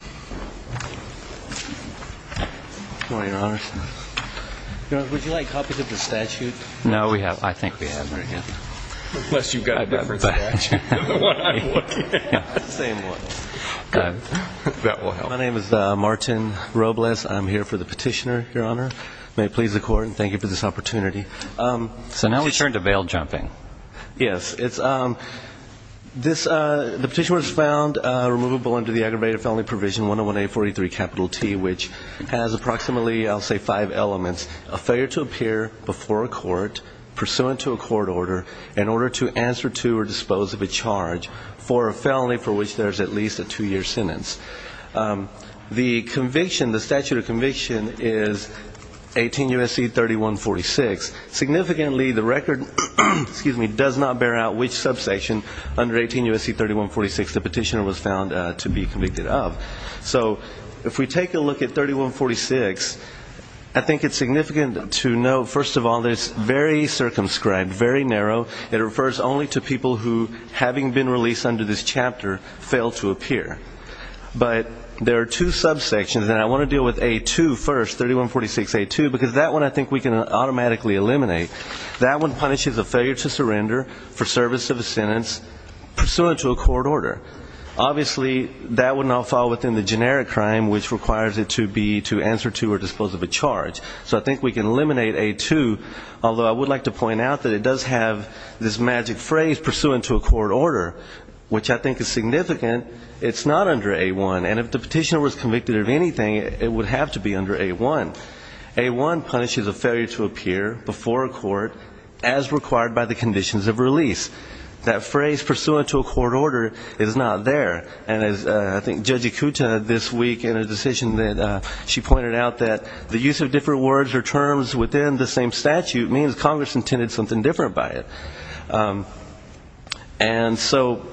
Good morning, Your Honor. Would you like copies of the statute? No, we have, I think. Unless you've got a different statute than the one I'm looking at. Same one. My name is Martin Robles. I'm here for the petitioner, Your Honor. May it please the Court, and thank you for this opportunity. So now we turn to bail jumping. Yes. The petition was found removable under the aggravated felony provision 101-843-T, which has approximately, I'll say, five elements, a failure to appear before a court pursuant to a court order in order to answer to or dispose of a charge for a felony for which there is at least a two-year sentence. The conviction, the statute of conviction is 18 U.S.C. 3146. Significantly, the record does not bear out which subsection under 18 U.S.C. 3146 the petitioner was found to be convicted of. So if we take a look at 3146, I think it's significant to note, first of all, that it's very circumscribed, very narrow. It refers only to people who, having been released under this chapter, fail to appear. But there are two subsections, and I want to deal with A2 first, 3146A2, because that one I think we can automatically eliminate. That one punishes a failure to surrender for service of a sentence pursuant to a court order. Obviously, that would not fall within the generic crime, which requires it to be to answer to or dispose of a charge. So I think we can eliminate A2, although I would like to point out that it does have this magic phrase, pursuant to a court order, which I think is significant. It's not under A1, and if the petitioner was convicted of anything, it would have to be under A1. A1 punishes a failure to appear before a court as required by the conditions of release. That phrase, pursuant to a court order, is not there. And I think Judge Ikuta this week in a decision that she pointed out that the use of different words or terms within the same statute means Congress intended something different by it. And so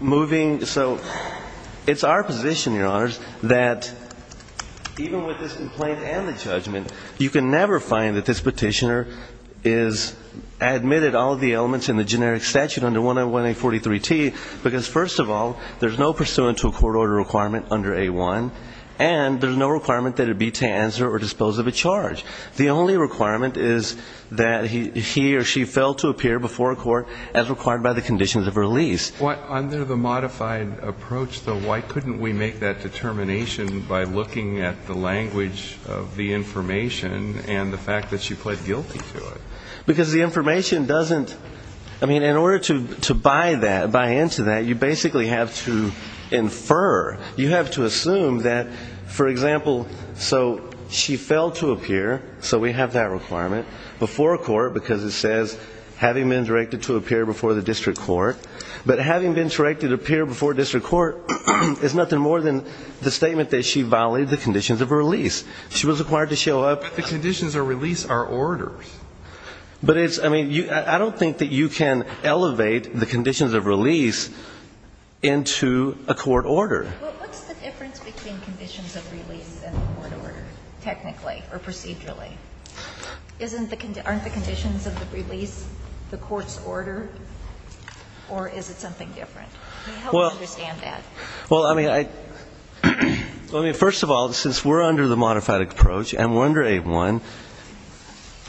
moving, so it's our position, Your Honors, that even with this complaint and the judgment, you can never find that this petitioner has admitted all of the elements in the generic statute under 101A43T, because first of all, there's no pursuant to a court order requirement under A1, and there's no requirement that it be to answer or dispose of a charge. The only requirement is that he or she fail to appear before a court as required by the conditions of release. But under the modified approach, though, why couldn't we make that determination by looking at the language of the information and the fact that she pled guilty to it? Because the information doesn't – I mean, in order to buy into that, you basically have to infer. You have to assume that, for example, so she failed to appear, so we have that requirement, before a court because it says having been directed to appear before the district court. But having been directed to appear before district court is nothing more than the statement that she violated the conditions of release. She was required to show up. But the conditions of release are orders. But it's – I mean, I don't think that you can elevate the conditions of release into a court order. Well, what's the difference between conditions of release and the court order, technically or procedurally? Aren't the conditions of the release the court's order, or is it something different? Help me understand that. Well, I mean, first of all, since we're under the modified approach and we're under A1,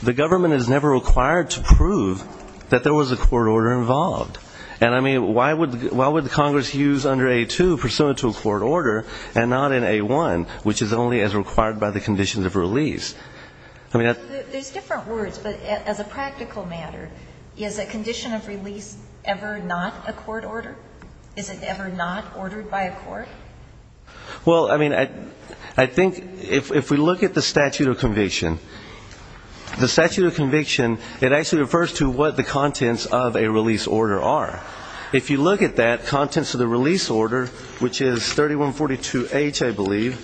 the government is never required to prove that there was a court order involved. And, I mean, why would Congress use under A2 pursuant to a court order and not in A1, which is only as required by the conditions of release? There's different words, but as a practical matter, is a condition of release ever not a court order? Is it ever not ordered by a court? Well, I mean, I think if we look at the statute of conviction, the statute of conviction, it actually refers to what the contents of a release order are. If you look at that, contents of the release order, which is 3142H, I believe,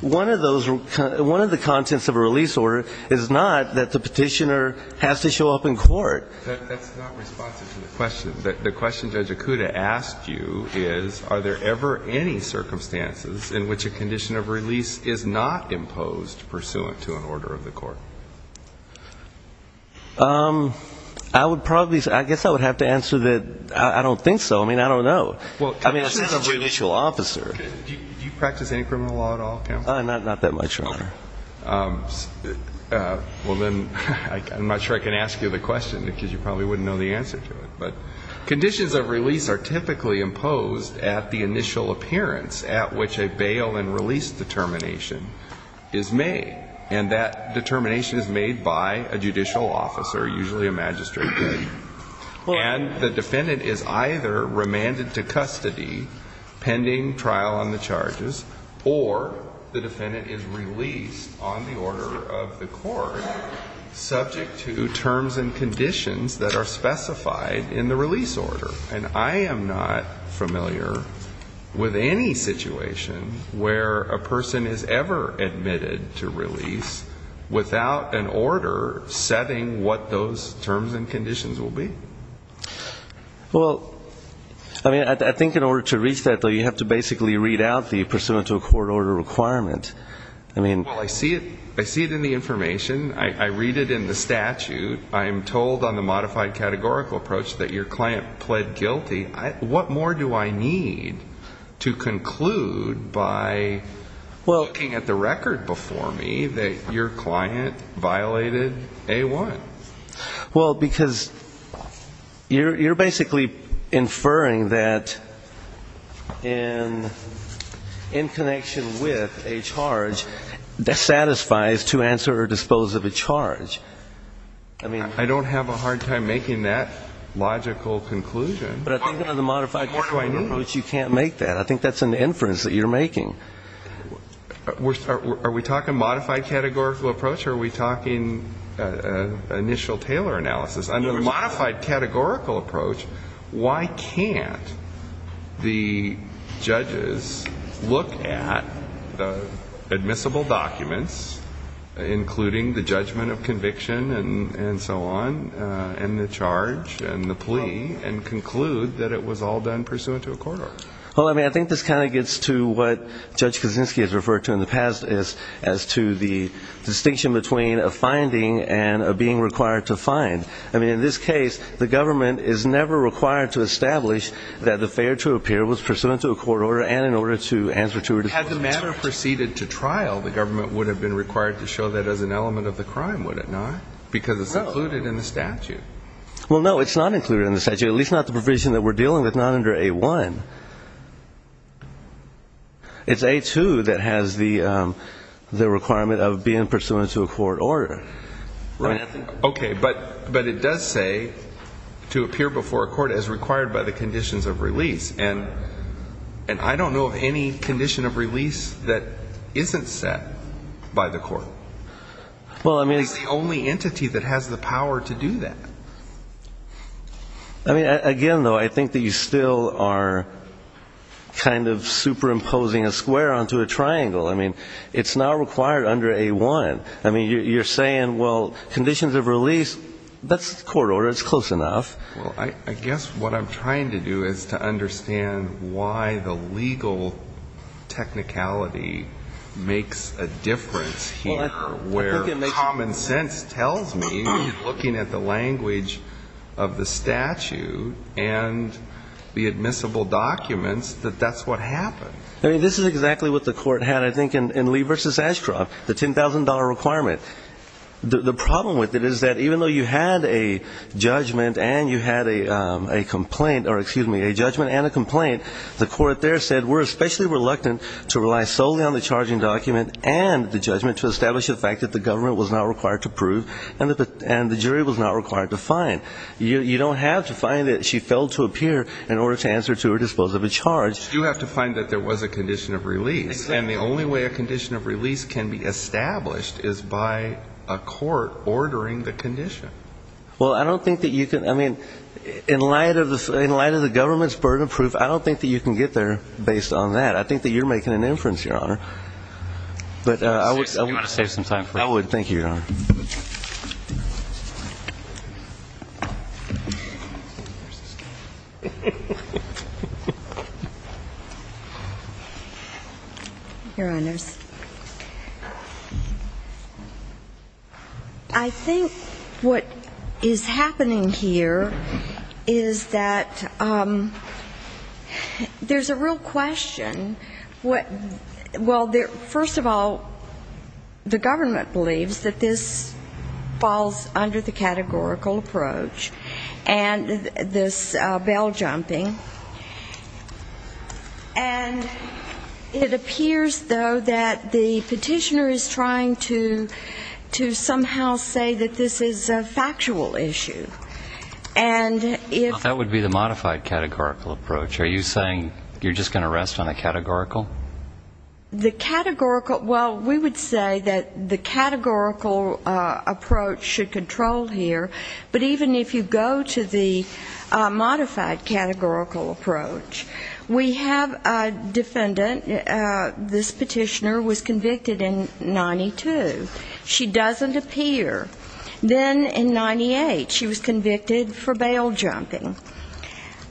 one of those – one of the contents of a release order is not that the petitioner has to show up in court. That's not responsive to the question. The question Judge Akuta asked you is, are there ever any circumstances in which a condition of release is not imposed pursuant to an order of the court? I would probably say – I guess I would have to answer that I don't think so. I mean, I don't know. I mean, as a judicial officer. Do you practice any criminal law at all, counsel? Not that much, Your Honor. Well, then I'm not sure I can ask you the question because you probably wouldn't know the answer to it. But conditions of release are typically imposed at the initial appearance at which a bail and release determination is made. And that determination is made by a judicial officer, usually a magistrate. And the defendant is either remanded to custody pending trial on the charges, or the defendant is released on the order of the court subject to terms and conditions that are specified in the release order. And I am not familiar with any situation where a person is ever admitted to release without an order setting what those terms and conditions will be. Well, I mean, I think in order to reach that, though, you have to basically read out the pursuant to a court order requirement. Well, I see it in the information. I read it in the statute. I am told on the modified categorical approach that your client pled guilty. What more do I need to conclude by looking at the record before me that your client violated A-1? Well, because you're basically inferring that in connection with a charge, that satisfies to answer or dispose of a charge. I don't have a hard time making that logical conclusion. But I think under the modified categorical approach, you can't make that. I think that's an inference that you're making. Are we talking modified categorical approach, or are we talking initial Taylor analysis? Under the modified categorical approach, why can't the judges look at admissible documents, including the judgment of conviction and so on, and the charge and the plea, and conclude that it was all done pursuant to a court order? Well, I mean, I think this kind of gets to what Judge Kuczynski has referred to in the past as to the distinction between a finding and a being required to find. I mean, in this case, the government is never required to establish that the failure to appear was pursuant to a court order and in order to answer to or dispose of a charge. Had the matter proceeded to trial, the government would have been required to show that as an element of the crime, would it not? Because it's included in the statute. Well, no, it's not included in the statute, at least not the provision that we're dealing with, not under A-1. It's A-2 that has the requirement of being pursuant to a court order, right? Okay, but it does say to appear before a court as required by the conditions of release, and I don't know of any condition of release that isn't set by the court. Well, I mean. It's the only entity that has the power to do that. I mean, again, though, I think that you still are kind of superimposing a square onto a triangle. I mean, it's not required under A-1. I mean, you're saying, well, conditions of release, that's the court order. It's close enough. Well, I guess what I'm trying to do is to understand why the legal technicality makes a difference here, where common sense tells me, looking at the language of the statute and the admissible documents, that that's what happened. I mean, this is exactly what the court had, I think, in Lee v. Ashcroft, the $10,000 requirement. The problem with it is that even though you had a judgment and you had a complaint, or excuse me, a judgment and a complaint, the court there said we're especially reluctant to rely solely on the charging document and the judgment to establish the fact that the government was not required to prove and the jury was not required to find. You don't have to find that she failed to appear in order to answer to her disposal of a charge. You have to find that there was a condition of release. Exactly. And the only way a condition of release can be established is by a court ordering the condition. Well, I don't think that you can, I mean, in light of the government's burden of proof, I don't think that you can get there based on that. I think that you're making an inference, Your Honor. Do you want to save some time for it? I would. Your Honors, I think what is happening here is that there's a real question. Well, first of all, the government believes that this falls under the categorical approach and this bail jumping. And it appears, though, that the petitioner is trying to somehow say that this is a factual issue. That would be the modified categorical approach. Are you saying you're just going to rest on the categorical? The categorical, well, we would say that the categorical approach should control here. But even if you go to the modified categorical approach, we have a defendant, this petitioner, was convicted in 92. She doesn't appear. Then in 98, she was convicted for bail jumping.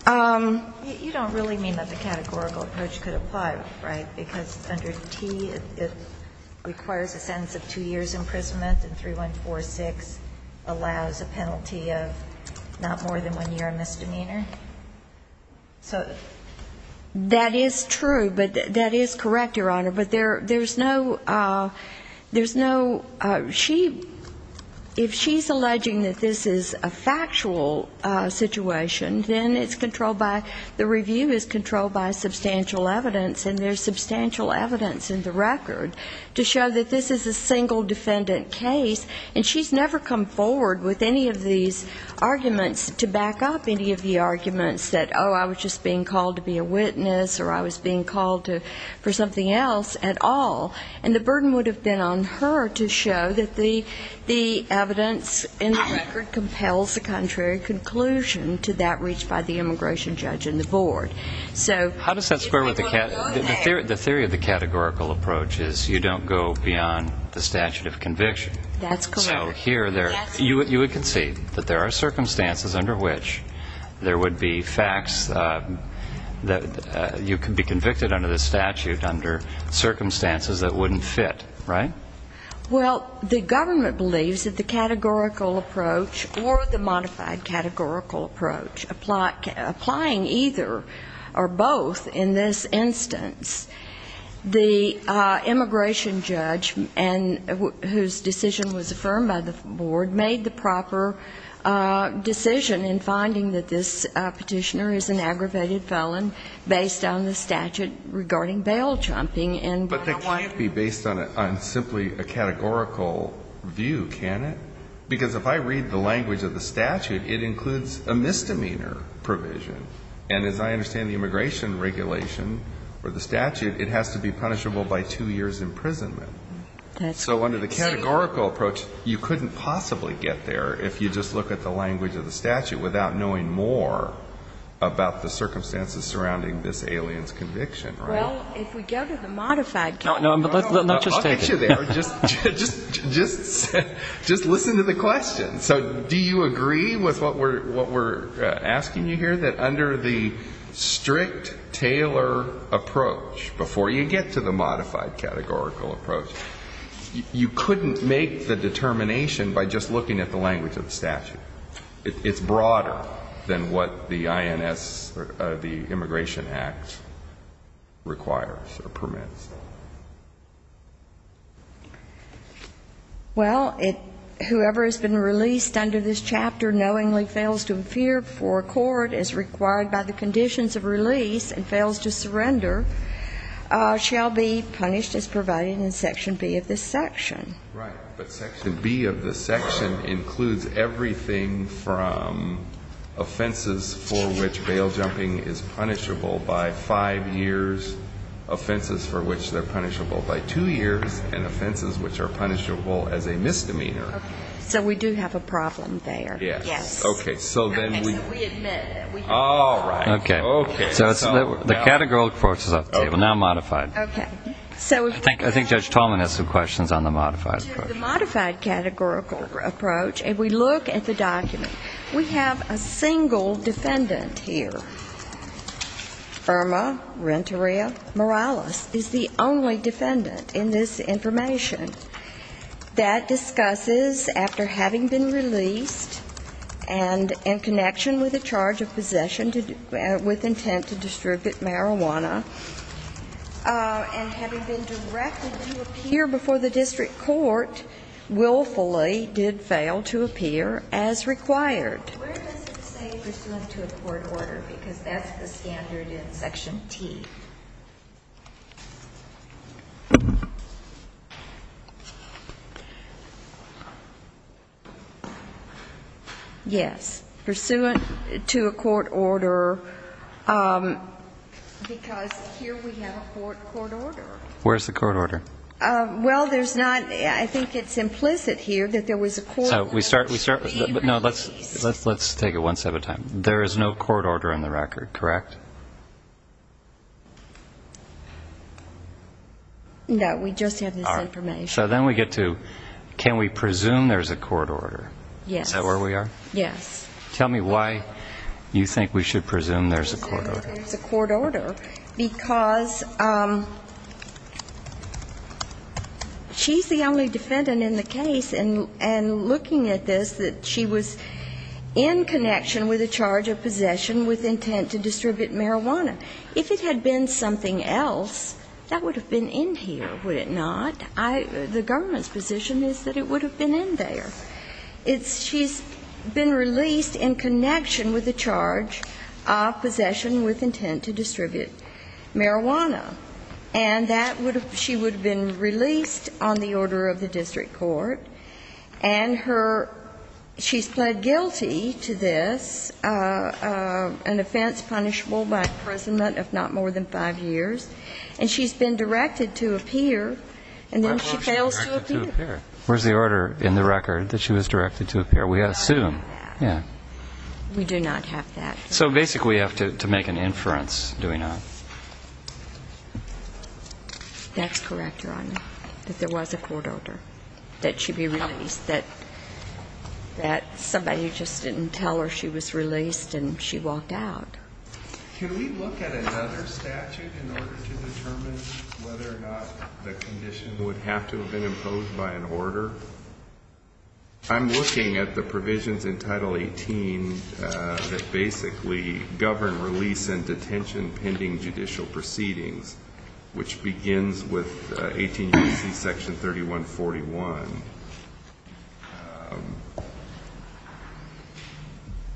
You don't really mean that the categorical approach could apply, right? Because under T, it requires a sentence of two years' imprisonment and 3146 allows a penalty of not more than one year of misdemeanor? So that is true, but that is correct, Your Honor. But there's no ‑‑ there's no ‑‑ she ‑‑ if she's alleging that this is a factual situation, then it's controlled by ‑‑ the review is controlled by substantial evidence, and there's substantial evidence in the record to show that this is a single defendant case. And she's never come forward with any of these arguments to back up any of the arguments that, oh, I was just being called to be a witness or I was being called for something else at all. And the burden would have been on her to show that the evidence in the record compels the contrary conclusion to that reached by the immigration judge and the board. So ‑‑ How does that square with the ‑‑ the theory of the categorical approach is you don't go beyond the statute of conviction. That's correct. You would concede that there are circumstances under which there would be facts that you could be convicted under the statute under circumstances that wouldn't fit, right? Well, the government believes that the categorical approach or the modified categorical approach applying either or both in this instance, the immigration judge and ‑‑ whose decision was affirmed by the board made the proper decision in finding that this petitioner is an aggravated felon based on the statute regarding bail chomping. But that can't be based on simply a categorical view, can it? Because if I read the language of the statute, it includes a misdemeanor provision. And as I understand the immigration regulation or the statute, it has to be punishable by two years' imprisonment. That's correct. So under the categorical approach, you couldn't possibly get there if you just look at the language of the statute without knowing more about the circumstances surrounding this alien's conviction, right? Well, if we go to the modified ‑‑ No, no. I'll get you there. Just listen to the question. So do you agree with what we're asking you here, that under the strict Taylor approach, before you get to the modified categorical approach, you couldn't make the determination by just looking at the language of the statute? It's broader than what the INS or the Immigration Act requires or permits. Well, whoever has been released under this chapter knowingly fails to appear before court as required by the conditions of release and fails to surrender shall be punished as provided in section B of this section. Right. But section B of this section includes everything from offenses for which bail jumping is punishable by five years, offenses for which they're punishable by two years, and offenses which are punishable as a misdemeanor. Okay. So we do have a problem there. Yes. Yes. Okay. So then we ‑‑ Okay. So we admit it. All right. Okay. Okay. So the categorical approach is up to you. Now modified. Okay. I think Judge Tallman has some questions on the modified approach. We do the modified categorical approach, and we look at the document. We have a single defendant here. Irma Renteria Morales is the only defendant in this information that discusses after having been released and in connection with a charge of possession with intent to distribute marijuana and having been directed to appear before the district court willfully did fail to appear as required. Where does it say pursuant to a court order? Because that's the standard in section T. Yes. Where does it say pursuant to a court order? Because here we have a court order. Where is the court order? Well, there's not ‑‑ I think it's implicit here that there was a court order to be released. Let's take it one step at a time. There is no court order in the record, correct? No. We just have this information. All right. So then we get to can we presume there's a court order? Yes. Is that where we are? Yes. Tell me why you think we should presume there's a court order. There's a court order because she's the only defendant in the case and looking at this that she was in connection with a charge of possession with intent to distribute marijuana. If it had been something else, that would have been in here, would it not? The government's position is that it would have been in there. She's been released in connection with a charge of possession with intent to distribute marijuana, and that would have ‑‑ she would have been released on the order of the district court, and her ‑‑ she's pled guilty to this, an offense punishable by imprisonment of not more than five years, and she's been directed to appear, and then she fails to appear. Where's the order in the record that she was directed to appear? We assume. Yeah. We do not have that. So basically we have to make an inference, do we not? That's correct, Your Honor, that there was a court order that she be released, that somebody just didn't tell her she was released and she walked out. Can we look at another statute in order to determine whether or not the condition would have to have been imposed by an order? I'm looking at the provisions in Title 18 that basically govern release and detention pending judicial proceedings, which begins with 18 U.C. section 3141.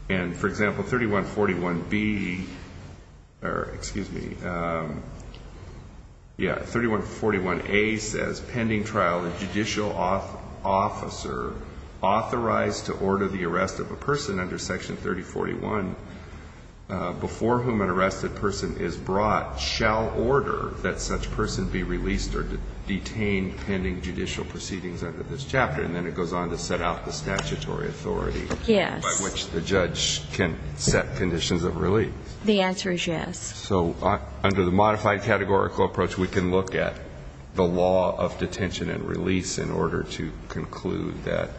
And, for example, 3141B ‑‑ or, excuse me, yeah, 3141A says, pending trial, a judicial officer authorized to order the arrest of a person under section 3041 before whom an arrested person is brought shall order that such person be released or detained pending judicial proceedings under this chapter. And then it goes on to set out the statutory authority by which the judge can set conditions of release. The answer is yes. So under the modified categorical approach, we can look at the law of detention and release in order to conclude that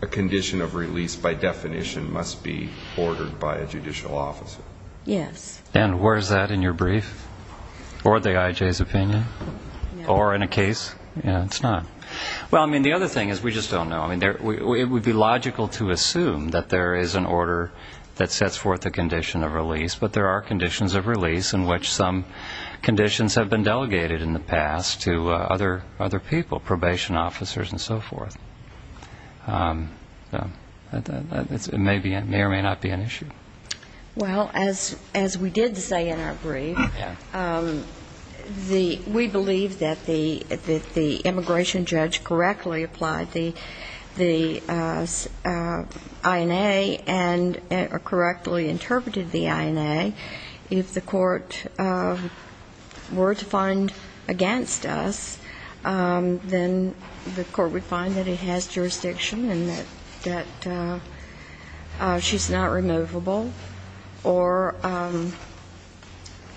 a condition of release by definition must be ordered by a judicial officer. Yes. And where is that in your brief? Or the IJ's opinion? Or in a case? It's not. Well, I mean, the other thing is we just don't know. I mean, it would be logical to assume that there is an order that sets forth a condition of release, but there are conditions of release in which some conditions have been delegated in the past to other people, probation officers and so forth. It may or may not be an issue. Well, as we did say in our brief, we believe that the immigration judge correctly applied the INA and correctly interpreted the INA. If the court were to find against us, then the court would find that it has jurisdiction and that she's not removable or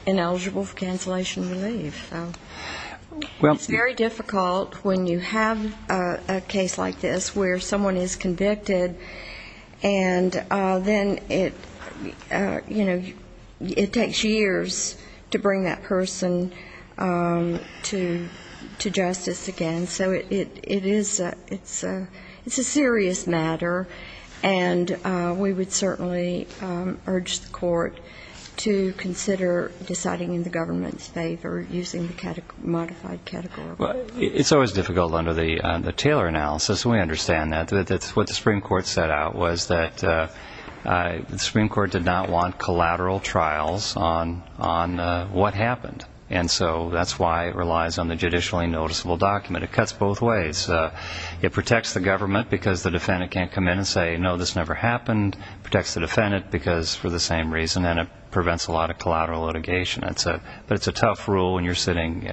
ineligible for cancellation of relief. So it's very difficult when you have a case like this where someone is convicted and then it takes years to bring that person to justice again. And so it's a serious matter, and we would certainly urge the court to consider deciding in the government's favor using the modified category. It's always difficult under the Taylor analysis. We understand that. What the Supreme Court set out was that the Supreme Court did not want collateral trials on what happened. And so that's why it relies on the judicially noticeable document. It cuts both ways. It protects the government because the defendant can't come in and say, no, this never happened. It protects the defendant because for the same reason, and it prevents a lot of collateral litigation. But it's a tough rule when you're standing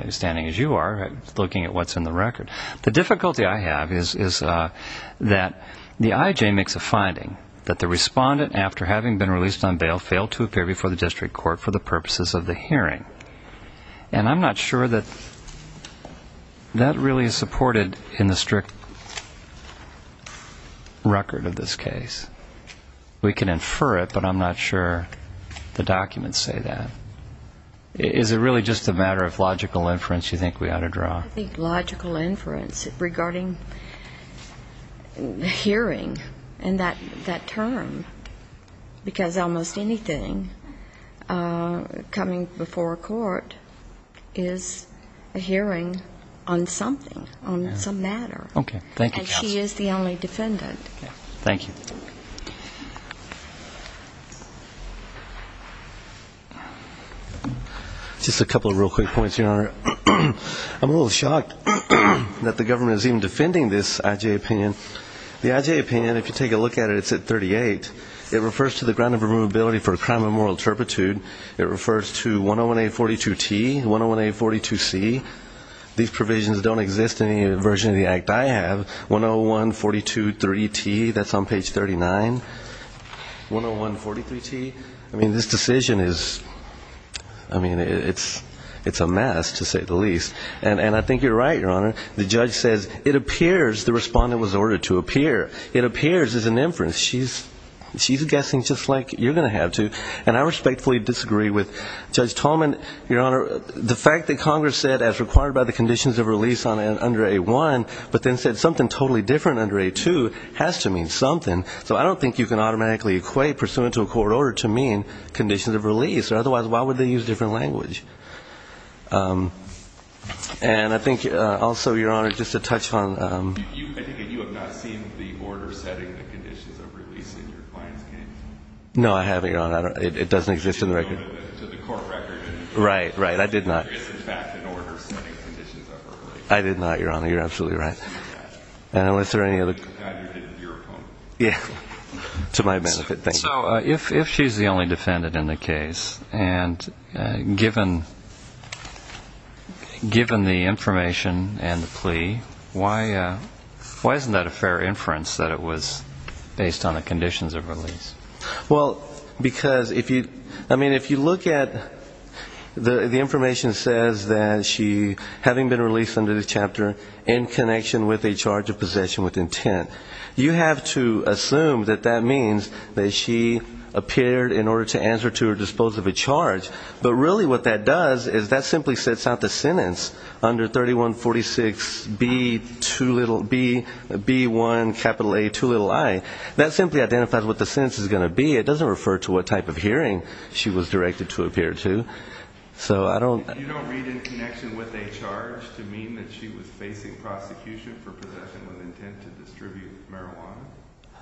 as you are looking at what's in the record. The difficulty I have is that the IJ makes a finding that the respondent, after having been released on bail, failed to appear before the district court for the purposes of the hearing. And I'm not sure that that really is supported in the strict record of this case. We can infer it, but I'm not sure the documents say that. Is it really just a matter of logical inference you think we ought to draw? I think logical inference regarding hearing and that term, because almost anything coming before a court is a hearing on something, on some matter. Okay. Thank you, counsel. And she is the only defendant. Thank you. Just a couple of real quick points, Your Honor. I'm a little shocked that the government is even defending this IJ opinion. The IJ opinion, if you take a look at it, it's at 38. It refers to the ground of removability for a crime of moral turpitude. It refers to 101-842-T, 101-842-C. These provisions don't exist in any version of the act I have. 101-423-T, that's on page 39. 101-43-T. I mean, this decision is, I mean, it's a mess, to say the least. And I think you're right, Your Honor. The judge says it appears the respondent was ordered to appear. It appears as an inference. She's guessing just like you're going to have to. And I respectfully disagree with Judge Tolman, Your Honor. The fact that Congress said as required by the conditions of release under A-1, but then said something totally different under A-2 has to mean something. So I don't think you can automatically equate pursuant to a court order to mean conditions of release. Otherwise, why would they use different language? And I think also, Your Honor, just a touch on. I think you have not seen the order setting the conditions of release in your client's case. No, I haven't, Your Honor. It doesn't exist in the record. To the court record. Right, right. I did not. It's, in fact, an order setting conditions of release. I did not, Your Honor. You're absolutely right. And was there any other. Neither did your opponent. Yeah. To my benefit. Thank you. So if she's the only defendant in the case, and given the information and the plea, why isn't that a fair inference that it was based on the conditions of release? Well, because if you look at the information that says that she, having been released under the chapter in connection with a charge of possession with intent, you have to assume that that means that she appeared in order to answer to or dispose of a charge. But really what that does is that simply sets out the sentence under 3146B1A2i. That simply identifies what the sentence is going to be. It doesn't refer to what type of hearing she was directed to appear to. So I don't. You don't read in connection with a charge to mean that she was facing prosecution for possession with intent to distribute marijuana?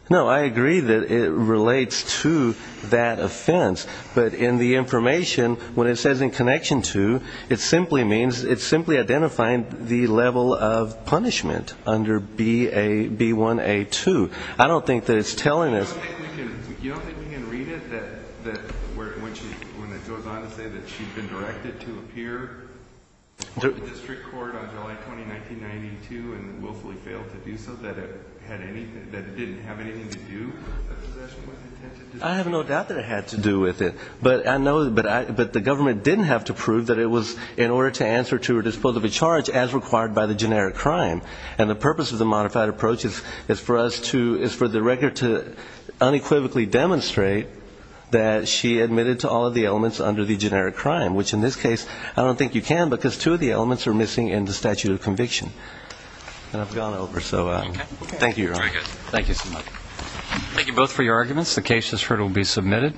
No, I agree that it relates to that offense. But in the information, when it says in connection to, it simply means it's simply identifying the level of punishment under B1A2. I don't think that it's telling us. You don't think we can read it when it goes on to say that she'd been directed to appear before the district court on July 20, 1992 and willfully failed to do so, that it didn't have anything to do with possession with intent? I have no doubt that it had to do with it. But the government didn't have to prove that it was in order to answer to or dispose of a charge as required by the generic crime. And the purpose of the modified approach is for us to, is for the record to unequivocally demonstrate that she admitted to all of the elements under the generic crime, which in this case I don't think you can because two of the elements are missing in the statute of conviction. And I've gone over. So thank you, Your Honor. Thank you so much. Thank you both for your arguments. The case that's heard will be submitted.